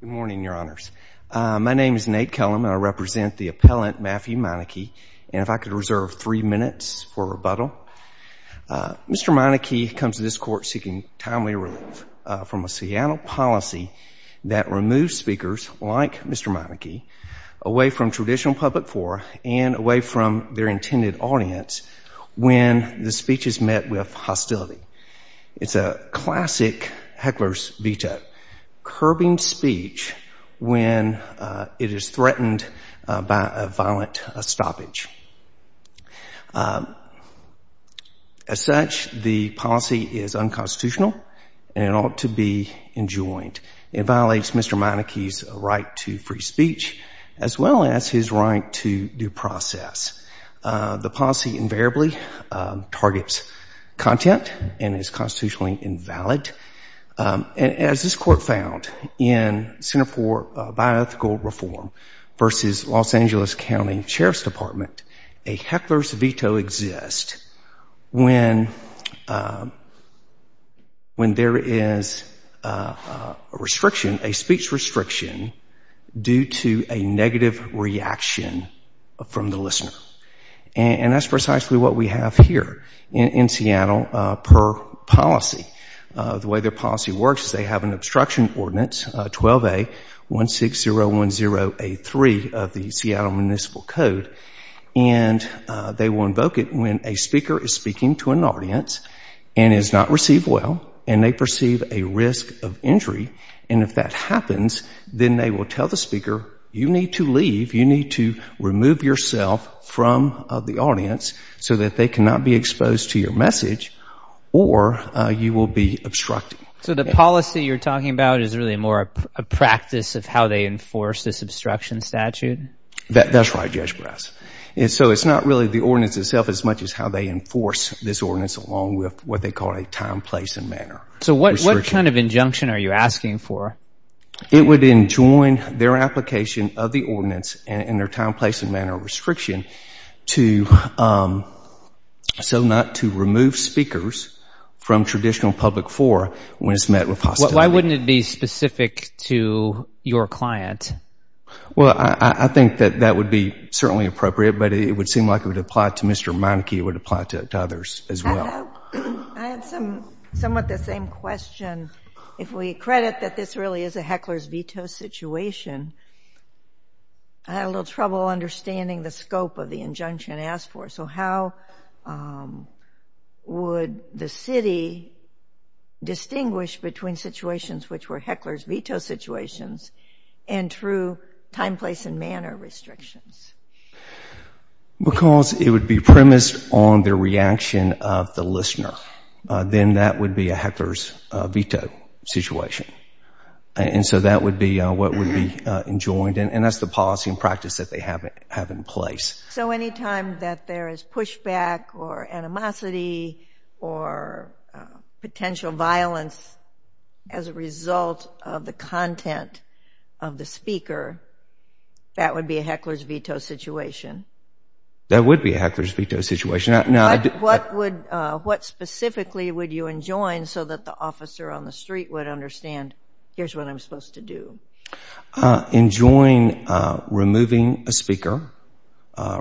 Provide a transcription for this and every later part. Good morning, your honors. My name is Nate Kellum and I represent the appellant Matthew Meinecke and if I could reserve three minutes for rebuttal. Mr. Meinecke comes to this court seeking timely relief from a Seattle policy that removes speakers like Mr. Meinecke away from traditional public forum and away from their intended audience when the speech is met with hostility. It's a curbing speech when it is threatened by a violent stoppage. As such, the policy is unconstitutional and ought to be enjoined. It violates Mr. Meinecke's right to free speech as well as his right to due process. The policy invariably targets content and is constitutionally invalid. As this court found in Center for Bioethical Reform versus Los Angeles County Sheriff's Department, a heckler's veto exists when when there is a restriction, a speech restriction due to a negative reaction from the listener. And that's precisely what we have here. In Seattle, per policy, the way their policy works is they have an obstruction ordinance 12A16010A3 of the Seattle Municipal Code and they will invoke it when a speaker is speaking to an audience and is not received well and they perceive a risk of injury and if that happens then they will tell the speaker you need to leave, you need to remove yourself from the audience so that they cannot be exposed to your message or you will be obstructed. So the policy you're talking about is really more a practice of how they enforce this obstruction statute? That's right, Judge Brass. And so it's not really the ordinance itself as much as how they enforce this ordinance along with what they call a time, place, and manner. So what kind of injunction are you asking for? It would enjoin their application of the ordinance and their time, place, and restriction so not to remove speakers from traditional public forum when it's met with hostility. Why wouldn't it be specific to your client? Well, I think that that would be certainly appropriate but it would seem like it would apply to Mr. Meineke, it would apply to others as well. I have somewhat the same question. If we credit that this really is a heckler's veto situation, I had a little trouble understanding the scope of the injunction asked for. So how would the city distinguish between situations which were heckler's veto situations and true time, place, and manner restrictions? Because it would be premised on their reaction of the listener, then that would be a heckler's veto situation. And so that would be what would be enjoined and that's the policy and practice that they have in place. So anytime that there is pushback or animosity or potential violence as a result of the content of the speaker, that would be a heckler's veto situation? That would be a heckler's veto situation. What would, what specifically would you enjoin so that the officer on the street would understand here's what I'm supposed to do? Enjoying removing a speaker,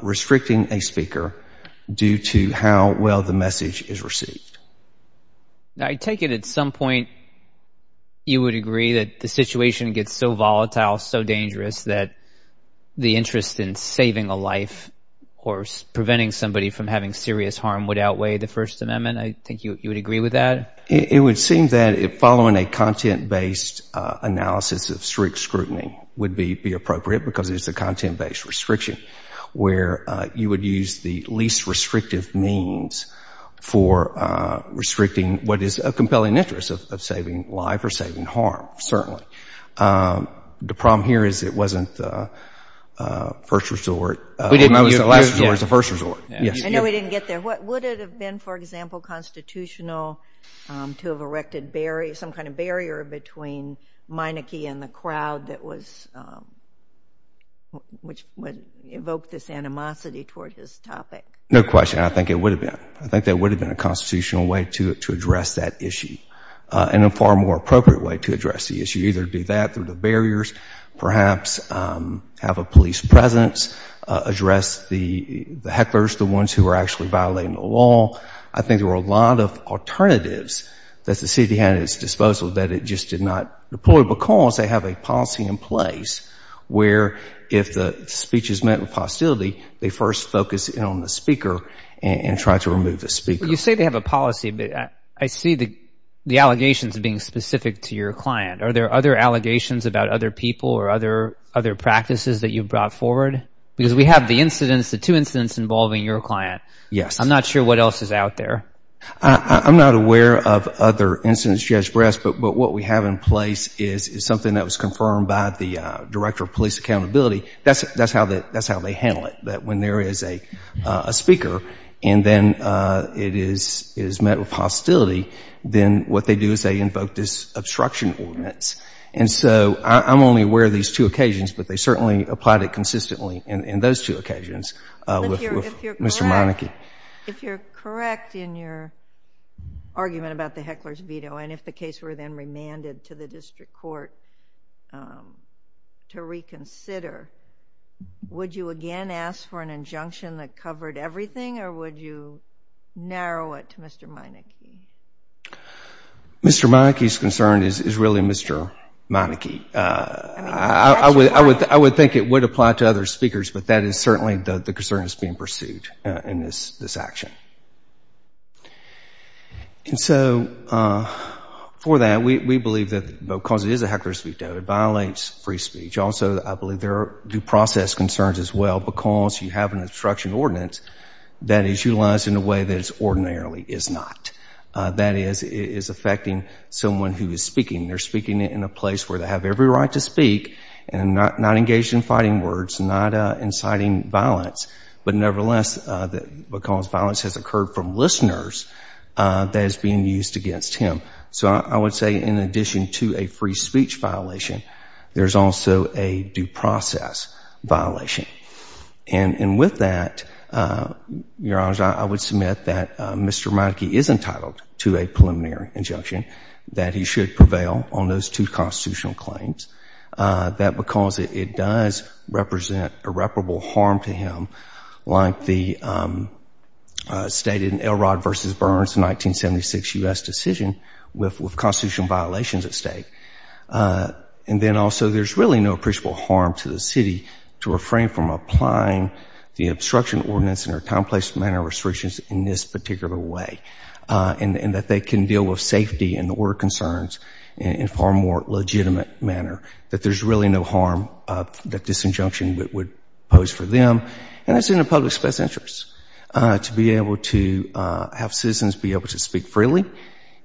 restricting a speaker due to how well the message is received. I take it at some point you would agree that the situation gets so volatile, so dangerous that the interest in saving a life or preventing somebody from having serious harm would outweigh the First Amendment? I think you would agree with that? It would seem that following a content-based analysis of strict scrutiny would be appropriate because it's a content-based restriction where you would use the least restrictive means for restricting what is a compelling interest of saving life or saving harm, certainly. The problem here is it wasn't the first resort. It was the first resort. I know we didn't get there. Would it have been, for constitutional, to have erected some kind of barrier between Meineke and the crowd that was, which would evoke this animosity towards this topic? No question. I think it would have been. I think that would have been a constitutional way to address that issue and a far more appropriate way to address the issue. Either do that through the barriers, perhaps have a police presence, address the hecklers, the ones who are actually violating the law. I think there were a lot of alternatives that the city had at its disposal that it just did not deploy because they have a policy in place where if the speech is met with hostility, they first focus in on the speaker and try to remove the speaker. You say they have a policy, but I see the allegations being specific to your client. Are there other allegations about other people or other practices that you brought forward? Because we have the incidents, the two cases out there. I'm not aware of other incidents, Judge Bress, but what we have in place is something that was confirmed by the Director of Police Accountability. That's how they handle it, that when there is a speaker and then it is met with hostility, then what they do is they invoke this obstruction ordinance. And so I'm only aware of these two occasions, but they certainly applied it consistently in those two occasions with Mr. Meineke. If you're correct in your argument about the heckler's veto and if the case were then remanded to the district court to reconsider, would you again ask for an injunction that covered everything or would you narrow it to Mr. Meineke? Mr. Meineke's concern is really Mr. Meineke. I would think it would apply to other speakers, but that is certainly the concern that's being pursued in this action. And so for that, we believe that because it is a heckler's veto, it violates free speech. Also, I believe there are due process concerns as well because you have an obstruction ordinance that is utilized in a way that it ordinarily is not. That is, it is affecting someone who is speaking. They're speaking in a place where they have every right to speak and not engaged in violence because violence has occurred from listeners that is being used against him. So I would say in addition to a free speech violation, there's also a due process violation. And with that, Your Honors, I would submit that Mr. Meineke is entitled to a preliminary injunction that he should prevail on those two constitutional claims. That because it does represent irreparable harm to him, like the stated in Elrod v. Burns, a 1976 U.S. decision with constitutional violations at stake. And then also there's really no appreciable harm to the city to refrain from applying the obstruction ordinance in a complex manner of restrictions in this particular way. And that they can deal with safety and order concerns in a far more legitimate manner. That there's for them and it's in the public's best interest to be able to have citizens be able to speak freely,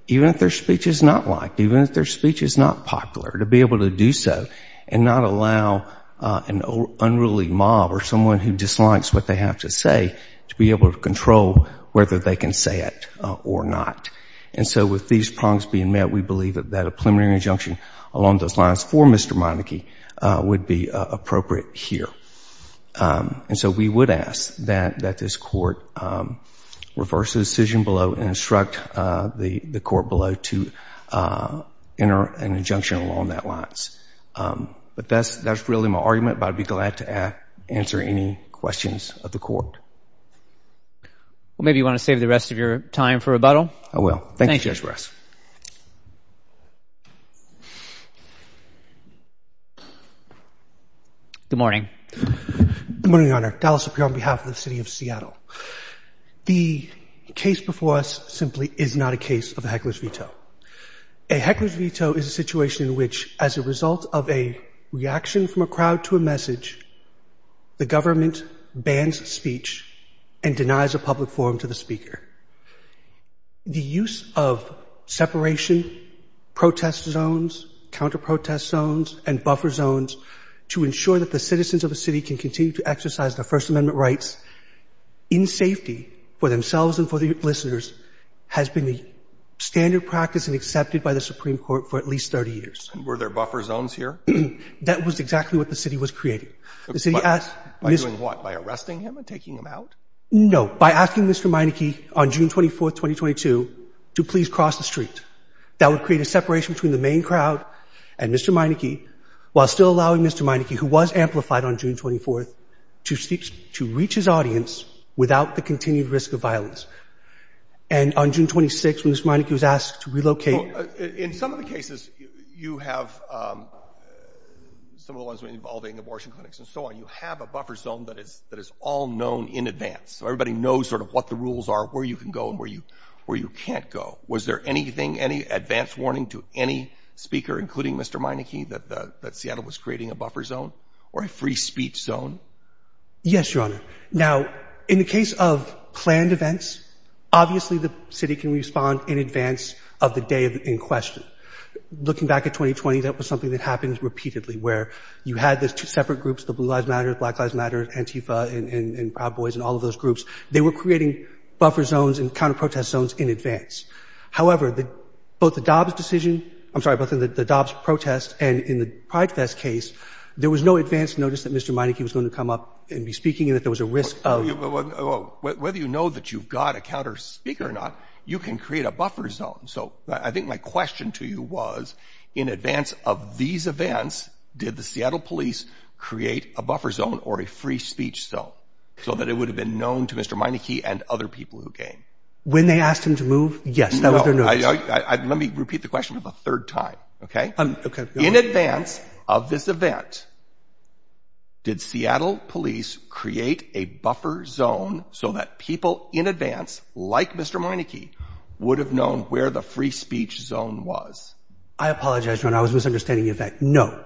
even if their speech is not liked, even if their speech is not popular, to be able to do so and not allow an unruly mob or someone who dislikes what they have to say to be able to control whether they can say it or not. And so with these prongs being met, we believe that a preliminary injunction along those lines for Mr. Meineke would be appropriate here. And so we would ask that that this court reverse the decision below and instruct the the court below to enter an injunction along that lines. But that's that's really my argument, but I'd be glad to answer any questions of the court. Well maybe you want to save the rest of your time for rebuttal? I will. Thank you. Good morning. Good morning, Your Honor. Dallas Sapir on behalf of the City of Seattle. The case before us simply is not a case of a heckler's veto. A heckler's veto is a situation in which, as a result of a reaction from a crowd to a message, the government bans speech and the use of separation, protest zones, counter-protest zones, and buffer zones to ensure that the citizens of a city can continue to exercise their First Amendment rights in safety for themselves and for the listeners has been the standard practice and accepted by the Supreme Court for at least 30 years. Were there buffer zones here? That was exactly what the city was creating. By doing what? By arresting him and taking him out? No, by asking Mr. Meineke on June 24, 2022, to please cross the street. That would create a separation between the main crowd and Mr. Meineke, while still allowing Mr. Meineke, who was amplified on June 24, to reach his audience without the continued risk of violence. And on June 26, when Mr. Meineke was asked to relocate... In some of the cases you have, some of the ones involving abortion clinics and so on, you have a buffer zone that is that is all known in advance, so everybody knows sort of what the rules are, where you can go and where you where you can't go. Was there anything, any advance warning to any speaker, including Mr. Meineke, that Seattle was creating a buffer zone or a free speech zone? Yes, Your Honor. Now, in the case of planned events, obviously the city can respond in advance of the day in question. Looking back at 2020, that was something that happens repeatedly, where you had these two separate groups, the Blue Lives Matter, Black Lives Matter, Antifa, and Proud Boys, and all of those groups, they were creating buffer zones and counter-protest zones in advance. However, both the Dobbs decision, I'm sorry, both in the Dobbs protest and in the PrideFest case, there was no advance notice that Mr. Meineke was going to come up and be speaking, and that there was a risk of... Whether you know that you've got a counter-speaker or not, you can create a buffer zone. So I think my question to you was, in advance of these so that it would have been known to Mr. Meineke and other people who came? When they asked him to move, yes, that was their notice. Let me repeat the question for the third time, okay? In advance of this event, did Seattle Police create a buffer zone so that people in advance, like Mr. Meineke, would have known where the free speech zone was? I apologize, Your Honor, I was misunderstanding the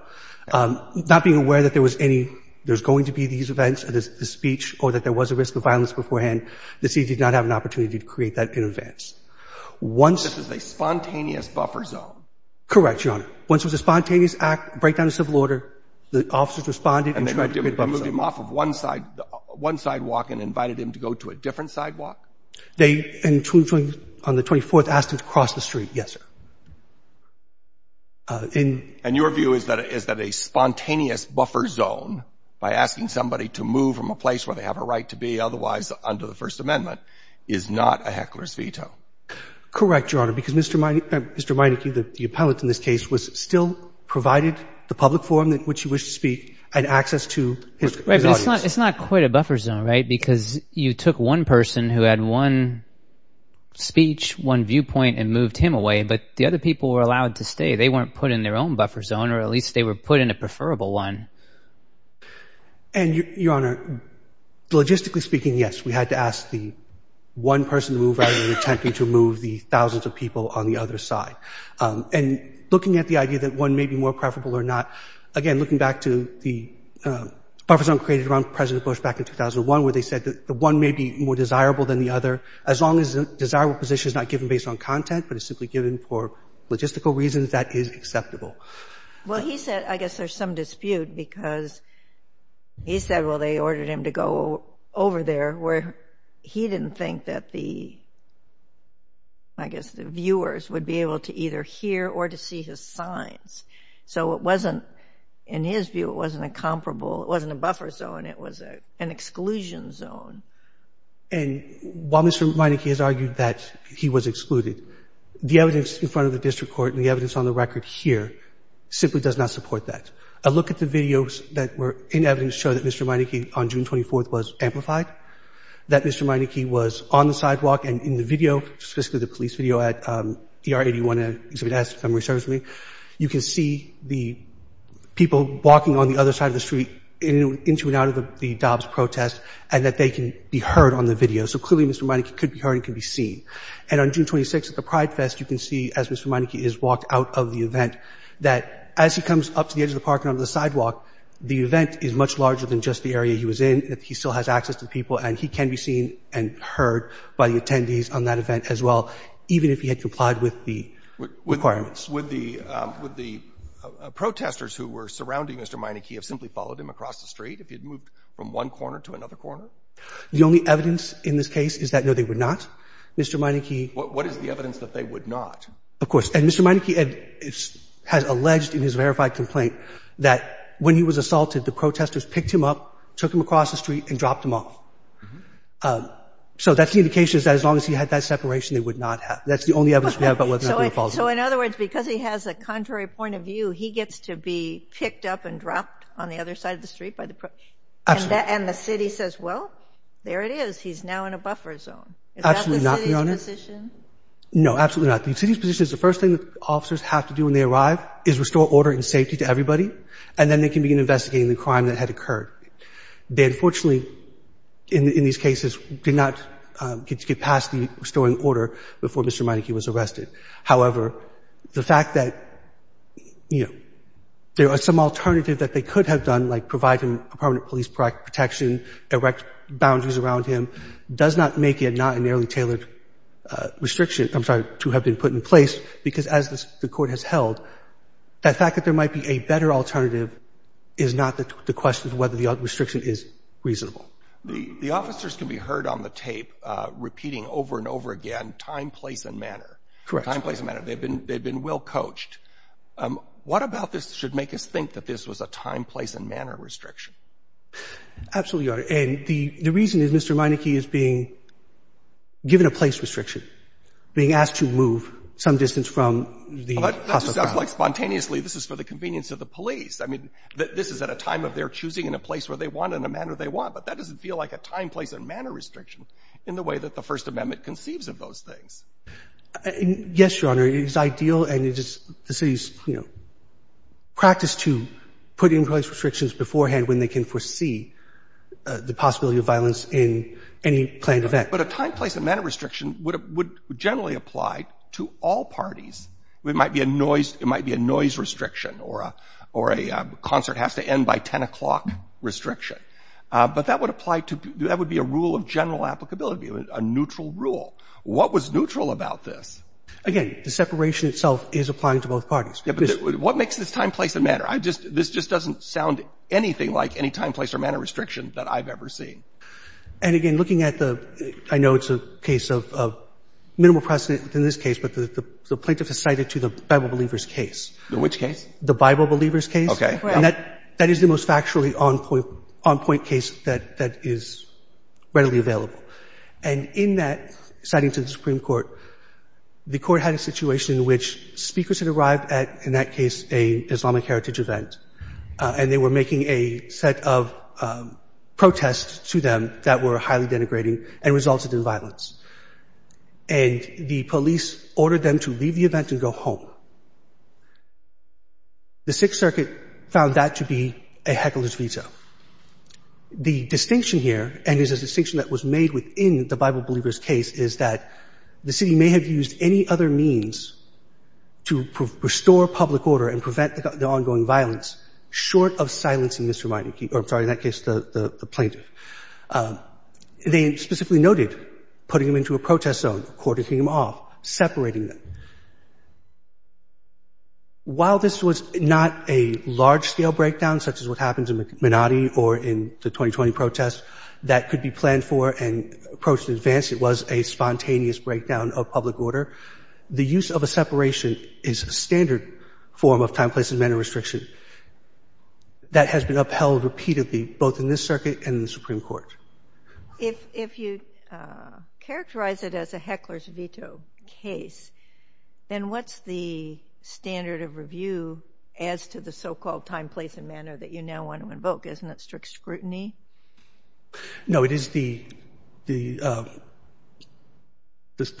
there's going to be these events, this speech, or that there was a risk of violence beforehand. The city did not have an opportunity to create that in advance. Once... This is a spontaneous buffer zone. Correct, Your Honor. Once it was a spontaneous act, break down the civil order, the officers responded... And they moved him off of one side, one sidewalk, and invited him to go to a different sidewalk? They, on the 24th, asked him to cross the street, yes, sir. In... And your view is that a spontaneous buffer zone, by asking somebody to move from a place where they have a right to be otherwise under the First Amendment, is not a heckler's veto? Correct, Your Honor, because Mr. Meineke, Mr. Meineke, the appellate in this case, was still provided the public forum in which he wished to speak and access to his audience. Right, but it's not quite a buffer zone, right? Because you took one person who had one speech, one viewpoint, and moved him away, but the other people were allowed to stay. They weren't put in their own buffer zone, or at least they were put in a preferable one. And, Your Honor, logistically speaking, yes, we had to ask the one person to move rather than attempting to move the thousands of people on the other side. And looking at the idea that one may be more preferable or not, again, looking back to the buffer zone created around President Bush back in 2001, where they said that the one may be more desirable than the other, as long as the desirable position is not given based on content, but is simply given for logistical reasons, that is acceptable. Well, he said, I guess there's some dispute, because he said, well, they ordered him to go over there where he didn't think that the, I guess, the viewers would be able to either hear or to see his signs. So it wasn't, in his view, it wasn't a comparable, it wasn't a buffer zone, it was an exclusion zone. And while Mr. Meineke has argued that he was excluded, the evidence in front of the district court and the evidence on the record here simply does not support that. A look at the videos that were in evidence show that Mr. Meineke on June 24th was amplified, that Mr. Meineke was on the sidewalk, and in the video, specifically the police video at ER 81 at Exhibit S, memory service room, you can see the people walking on the other side of the street into and out of the parking lot. And he can't be heard on the video. So clearly, Mr. Meineke could be heard and could be seen. And on June 26th at the Pride Fest, you can see, as Mr. Meineke is walked out of the event, that as he comes up to the edge of the parking lot of the sidewalk, the event is much larger than just the area he was in, that he still has access to people, and he can be seen and heard by the attendees on that event as well, even if he had complied with the requirements. Would the, would the protesters who were surrounding Mr. Meineke have simply followed him across the street if he had moved from one corner to another corner? The only evidence in this case is that, no, they would not. Mr. Meineke — What is the evidence that they would not? Of course. And Mr. Meineke has alleged in his verified complaint that when he was assaulted, the protesters picked him up, took him across the street, and dropped him off. So that's the indication that as long as he had that separation, they would not have. That's the only evidence we have about whether or not they would have followed him. So in other words, because he has a contrary point of view, he gets to be picked up and dropped on the other side of the street by the — Absolutely. And the City says, well, there it is. He's now in a buffer zone. Absolutely not, Your Honor. Is that the City's position? No, absolutely not. The City's position is the first thing that officers have to do when they arrive is restore order and safety to everybody, and then they can begin investigating the crime that had occurred. They unfortunately, in these cases, did not get past the restoring order before Mr. Meineke was arrested. However, the fact that, you know, there are some alternatives that they could have done, like providing a permanent police protection, erect boundaries around him, does not make it not a narrowly tailored restriction — I'm sorry, to have been put in place, because as the Court has held, that fact that there might be a better alternative is not the question of whether the restriction is reasonable. The officers can be heard on the tape repeating over and over again time, place, and manner. Correct. Time, place, and manner. They've been well coached. What about this should make us think that this was a time, place, and manner restriction? Absolutely, Your Honor. And the reason is Mr. Meineke is being given a place restriction, being asked to move some distance from the hospital grounds. But that just sounds like spontaneously this is for the convenience of the police. I mean, this is at a time of their choosing and a place where they want and a manner they want. But that doesn't feel like a time, place, and manner restriction in the way that the First Amendment conceives of those things. Yes, Your Honor. It is ideal and it is the city's, you know, practice to put in place restrictions beforehand when they can foresee the possibility of violence in any planned event. But a time, place, and manner restriction would generally apply to all parties. It might be a noise — it might be a noise restriction or a concert has to end by 10 o'clock restriction. But that would apply to — that would be a rule of general applicability, a neutral rule. What was neutral about this? Again, the separation itself is applying to both parties. What makes this time, place, and manner? I just — this just doesn't sound anything like any time, place, or manner restriction that I've ever seen. And again, looking at the — I know it's a case of minimal precedent in this case, but the plaintiff has cited to the Bible believers case. Which case? The Bible believers case. Okay. Right. And that is the most factually on-point case that is readily available. And in that, citing to the Supreme Court, the Court had a situation in which speakers had arrived at, in that case, an Islamic heritage event, and they were making a set of protests to them that were highly denigrating and resulted in violence. And the police ordered them to leave the event and go home. The Sixth Circuit found that to be a heckless veto. The distinction here, and it is a distinction that was made within the Bible believers case, is that the city may have used any other means to restore public order and prevent the ongoing violence, short of silencing Mr. Meineke — or, I'm sorry, in that case, the plaintiff. They specifically noted putting him into a protest zone, courting him off, separating them. While this was not a large-scale breakdown, such as what happened to Menotti or in the 2020 protest, that could be planned for and approached in advance, it was a spontaneous breakdown of public order. The use of a separation is a standard form of time, place, and manner restriction that has been upheld repeatedly, both in this circuit and in the Supreme Court. If you characterize it as a heckler's veto case, then what's the standard of review as to the so-called time, place, and manner that you now want to invoke? Isn't it strict scrutiny? No, it is the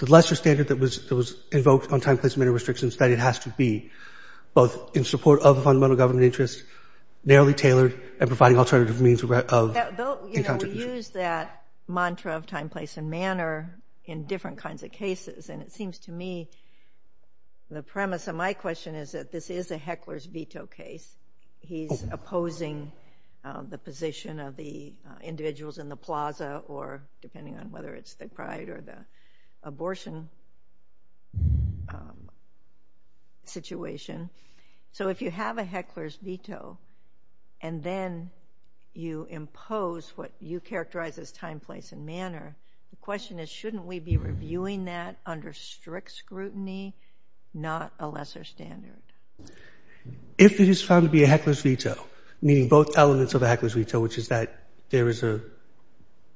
lesser standard that was invoked on time, place, and manner restrictions, that it has to be both in support of the fundamental government interest, narrowly tailored, and providing alternative means of incontribution. You know, we use that mantra of time, place, and manner in different kinds of cases, and it seems to me the premise of my question is that this is a heckler's veto case. He's opposing the position of the individuals in the plaza, or depending on whether it's the pride or the abortion situation. So if you have a heckler's veto, and then you impose what you characterize as time, place, and manner, the question is, shouldn't we be reviewing that under strict scrutiny, not a lesser standard? If it is found to be a heckler's veto, meaning both elements of a heckler's veto, which is that there is a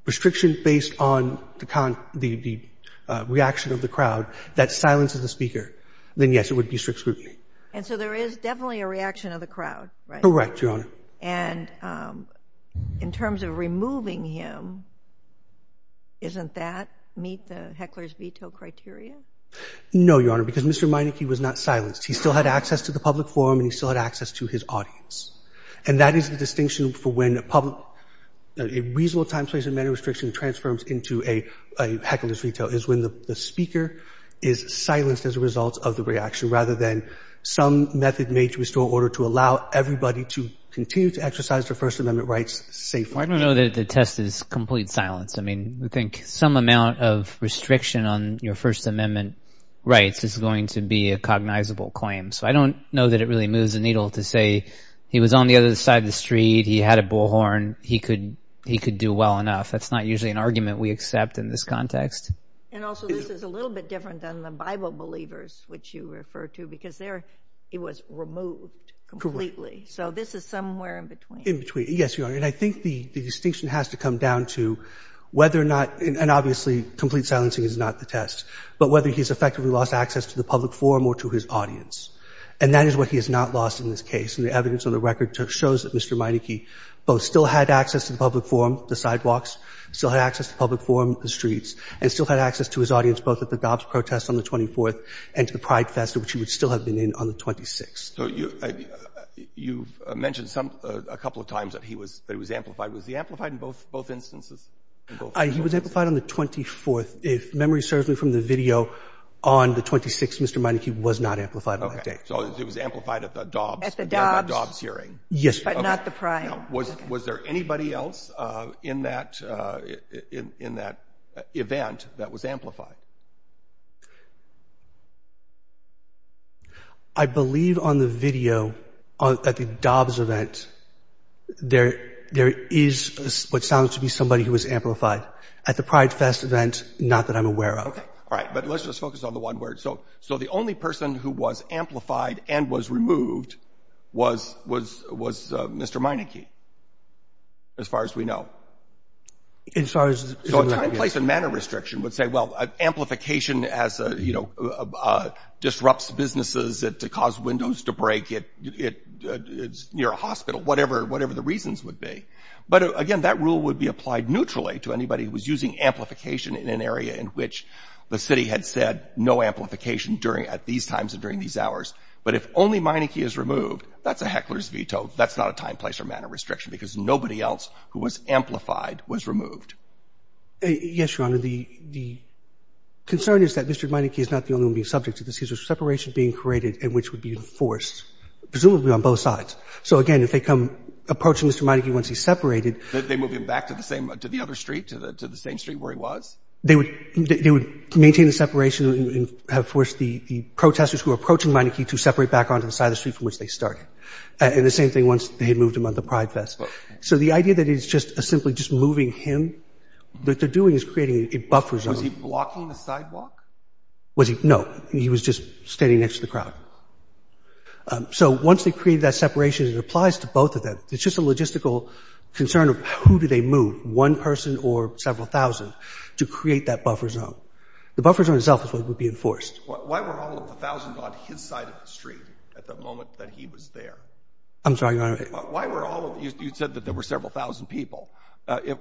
restriction based on the reaction of the crowd that silences the speaker, then yes, it would be strict scrutiny. And so there is definitely a reaction of the crowd, right? Correct, Your Honor. And in terms of removing him, isn't that meet the heckler's veto criteria? No, Your Honor, because Mr. Meineke was not silenced. He still had access to the public forum, and he still had access to his audience. And that is the distinction for when a reasonable time, place, and manner restriction transforms into a heckler's veto, is when the speaker is silenced as a result of the reaction, rather than some method made to restore order to allow everybody to continue to exercise their First Amendment rights safely. I don't know that the test is complete silence. I mean, I think some amount of restriction on your First Amendment rights is going to be a cognizable claim. So I don't know that it really moves the needle to say he was on the other side of the street, he had a bullhorn, he could do well enough. That's not usually an argument we accept in this context. And also, this is a little bit different than the Bible believers, which you refer to, because there it was removed completely. So this is somewhere in between. In between, yes, Your Honor. And I think the distinction has to come down to whether or not, and obviously complete silencing is not the test, but whether he's effectively lost access to the public forum or to his audience. And that is what he has not lost in this case. And the evidence on the record shows that Mr. Meineke both still had access to the public forum, the sidewalks, still had access to the public forum, the streets, and still had access to his audience both at the Dobbs protest on the 24th and to the Pride Fest, which he would still have been in on the 26th. So you mentioned a couple of times that he was amplified. Was he amplified in both instances? He was amplified on the 24th. If memory serves me from the video on the 26th, Mr. Meineke was not amplified on that day. Okay. So it was amplified at the Dobbs hearing. At the Dobbs. Yes. But not the Pride. No. Was there anybody else in that event that was amplified? I believe on the video at the Dobbs event, there is what sounds to be somebody who was amplified. At the Pride Fest event, not that I'm aware of. Okay. All right. But let's just focus on the one word. So the only person who was amplified and was removed was Mr. Meineke, as far as we know. So a time, place, and manner restriction would say, well, amplification disrupts businesses to cause windows to break near a hospital, whatever the reasons would be. But, again, that rule would be applied neutrally to anybody who was using in an area in which the city had said no amplification at these times and during these hours. But if only Meineke is removed, that's a heckler's veto. That's not a time, place, or manner restriction, because nobody else who was amplified was removed. Yes, Your Honor. The concern is that Mr. Meineke is not the only one being subject to this. He's a separation being created in which would be enforced, presumably on both sides. So, again, if they come approaching Mr. Meineke once he's separated — They move him back to the other street, to the same street where he was? They would maintain the separation and have forced the protesters who were approaching Meineke to separate back onto the side of the street from which they started. And the same thing once they had moved him on the Pride Fest. So the idea that it's just simply just moving him, what they're doing is creating a buffer zone. Was he blocking the sidewalk? No. He was just standing next to the crowd. So once they create that separation, it applies to both of them. It's just a logistical concern of who do they move, one person or several thousand, to create that buffer zone. The buffer zone itself is what would be enforced. Why were all of the thousands on his side of the street at the moment that he was there? I'm sorry, Your Honor. Why were all of — you said that there were several thousand people.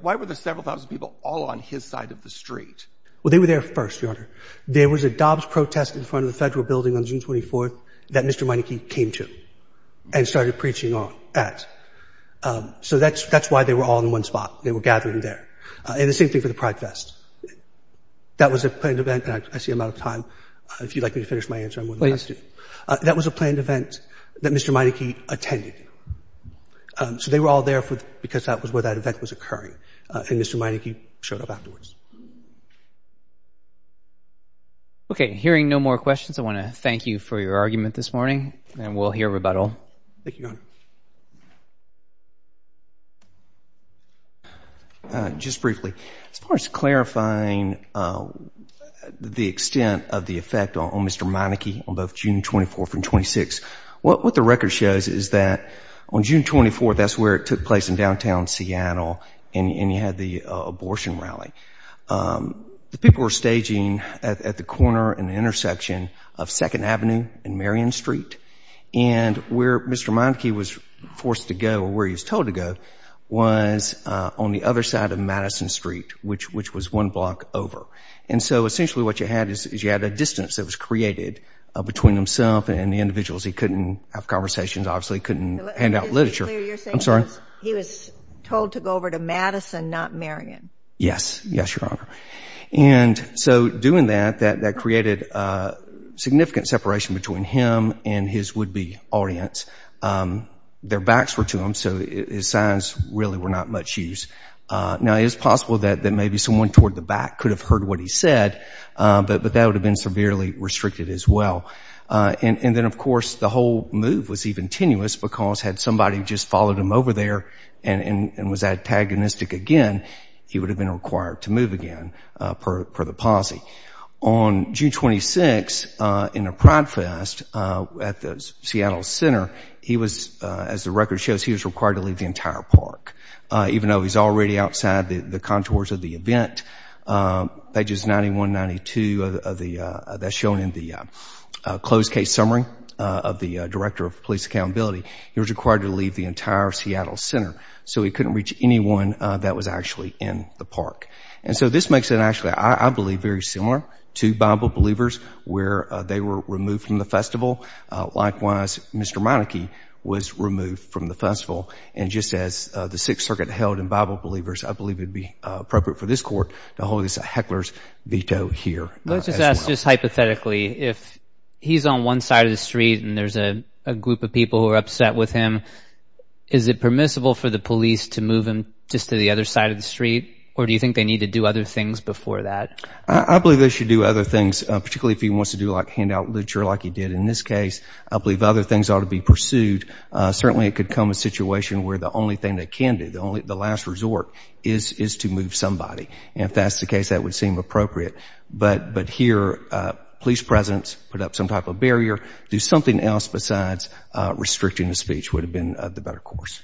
Why were the several thousand people all on his side of the street? Well, they were there first, Your Honor. There was a Dobbs protest in front of the Federal Building on June 24th that Mr. Meineke came to and started preaching at. So that's why they were all in one spot. They were gathering there. And the same thing for the Pride Fest. That was a planned event, and I see I'm out of time. If you'd like me to finish my answer, I'm willing to ask you. That was a planned event that Mr. Meineke attended. So they were all there because that was where that event was occurring, and Mr. Meineke showed up afterwards. Okay. Hearing no more questions, I want to thank you for your argument this morning, and we'll hear rebuttal. Thank you, Your Honor. Just briefly, as far as clarifying the extent of the effect on Mr. Meineke on both June 24th and 26th, what the record shows is that on June 24th, that's where it took place in downtown Seattle, and you had the abortion rally. The people were staging at the corner and the intersection of 2nd Avenue and Marion Street, and where Mr. Meineke was forced to go or where he was told to go was on the other side of Madison Street, which was one block over. And so essentially what you had is you had a distance that was created between himself and the individuals. He couldn't have conversations, obviously. He couldn't hand out literature. I'm sorry? He was told to go over to Madison, not Marion. Yes. Yes, Your Honor. And so doing that, that created significant separation between him and his would-be audience. Their backs were to him, so his signs really were not much use. Now, it is possible that maybe someone toward the back could have heard what he said, but that would have been severely restricted as well. And then, of course, the whole move was even tenuous because had somebody just followed him over there and was antagonistic again, he would have been required to move again per the policy. On June 26, in a pride fest at the Seattle Center, he was, as the record shows, he was required to leave the entire park, even though he's already outside the contours of the event. Pages 91 and 92, that's shown in the closed case summary of the Director of Police Accountability, he was required to leave the entire Seattle Center, so he couldn't reach anyone that was actually in the park. And so this makes it actually, I believe, very similar to Bible Believers where they were removed from the festival. Likewise, Mr. Monarchy was removed from the festival. And just as the Sixth Circuit held in Bible Believers, I believe it would be appropriate for this Court to hold this a heckler's veto here. Let's just ask just hypothetically, if he's on one side of the street and there's a group of people who are upset with him, is it permissible for the police to move him just to the other side of the street, or do you think they need to do other things before that? I believe they should do other things, particularly if he wants to do hand-out literature like he did in this case. I believe other things ought to be pursued. Certainly it could come a situation where the only thing they can do, the last resort, is to move somebody. And if that's the case, that would seem appropriate. But here, police presence, put up some type of barrier, do something else besides restricting the speech would have been the better course.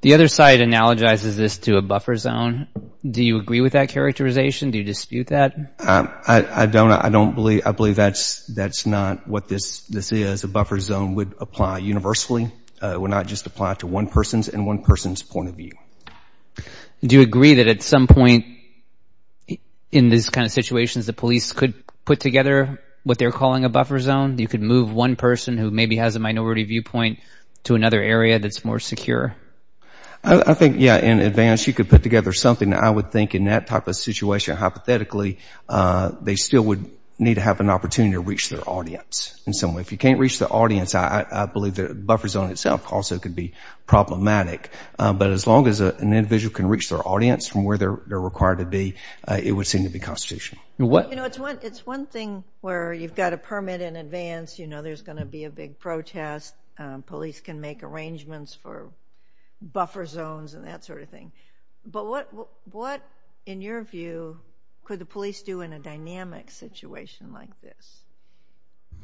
The other side analogizes this to a buffer zone. Do you agree with that characterization? Do you dispute that? I don't. I believe that's not what this is. A buffer zone would apply universally. It would not just apply to one person's and one person's point of view. Do you agree that at some point in these kind of situations, the police could put together what they're calling a buffer zone? You could move one person who maybe has a minority viewpoint to another area that's more secure? I think, yeah, in advance you could put together something. I would think in that type of situation, hypothetically, they still would need to have an opportunity to reach their audience in some way. If you can't reach the audience, I believe the buffer zone itself also could be problematic. But as long as an individual can reach their audience from where they're required to be, it would seem to be constitutional. It's one thing where you've got a permit in advance. You know there's going to be a big protest. Police can make arrangements for buffer zones and that sort of thing. But what, in your view, could the police do in a dynamic situation like this?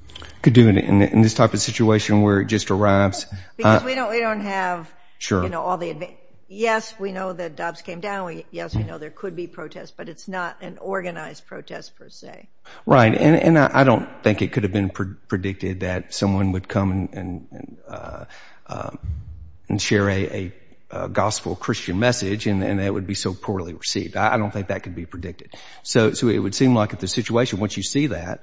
They could do it in this type of situation where it just arrives. Because we don't have all the advance. Yes, we know that DOPS came down. Yes, we know there could be protests, but it's not an organized protest per se. Right. And I don't think it could have been predicted that someone would come and share a gospel Christian message and it would be so poorly received. I don't think that could be predicted. So it would seem like if the situation, once you see that,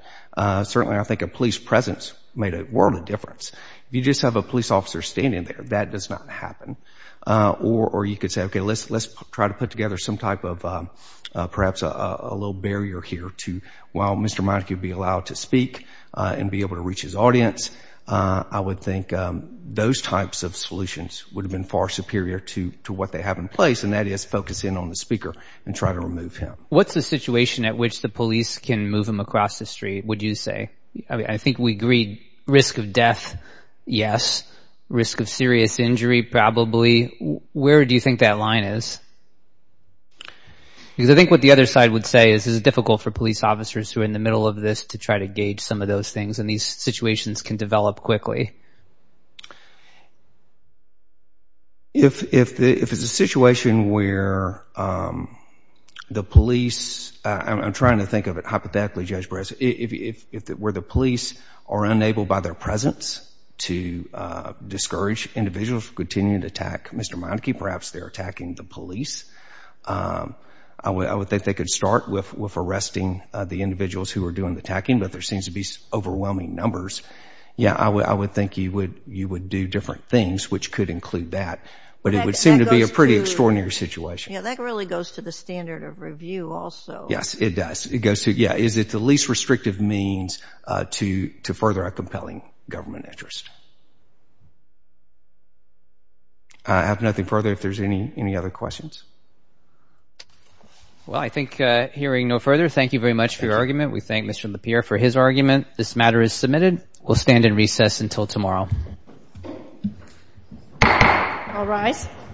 certainly I think a police presence made a world of difference. If you just have a police officer standing there, that does not happen. Or you could say, okay, let's try to put together some type of perhaps a little barrier here to while Mr. Monaco could be allowed to speak and be able to reach his audience, I would think those types of solutions would have been far superior to what they have in place, and that is focus in on the speaker and try to remove him. What's the situation at which the police can move him across the street, would you say? I think we agreed risk of death, yes. Risk of serious injury, probably. Where do you think that line is? Because I think what the other side would say is it's difficult for police officers who are in the middle of this to try to gauge some of those things and these situations can develop quickly. If it's a situation where the police, I'm trying to think of it hypothetically, where the police are unable by their presence to discourage individuals from continuing to attack Mr. Monaco, perhaps they're attacking the police. I would think they could start with arresting the individuals who are doing the attacking, but there seems to be overwhelming numbers. Yes, I would think you would do different things, which could include that, but it would seem to be a pretty extraordinary situation. Yes, that really goes to the standard of review also. Yes, it does. It goes to, yes, is it the least restrictive means to further a compelling government interest? I have nothing further if there's any other questions. Well, I think hearing no further, thank you very much for your argument. We thank Mr. LaPierre for his argument. This matter is submitted. We'll stand in recess until tomorrow. All rise.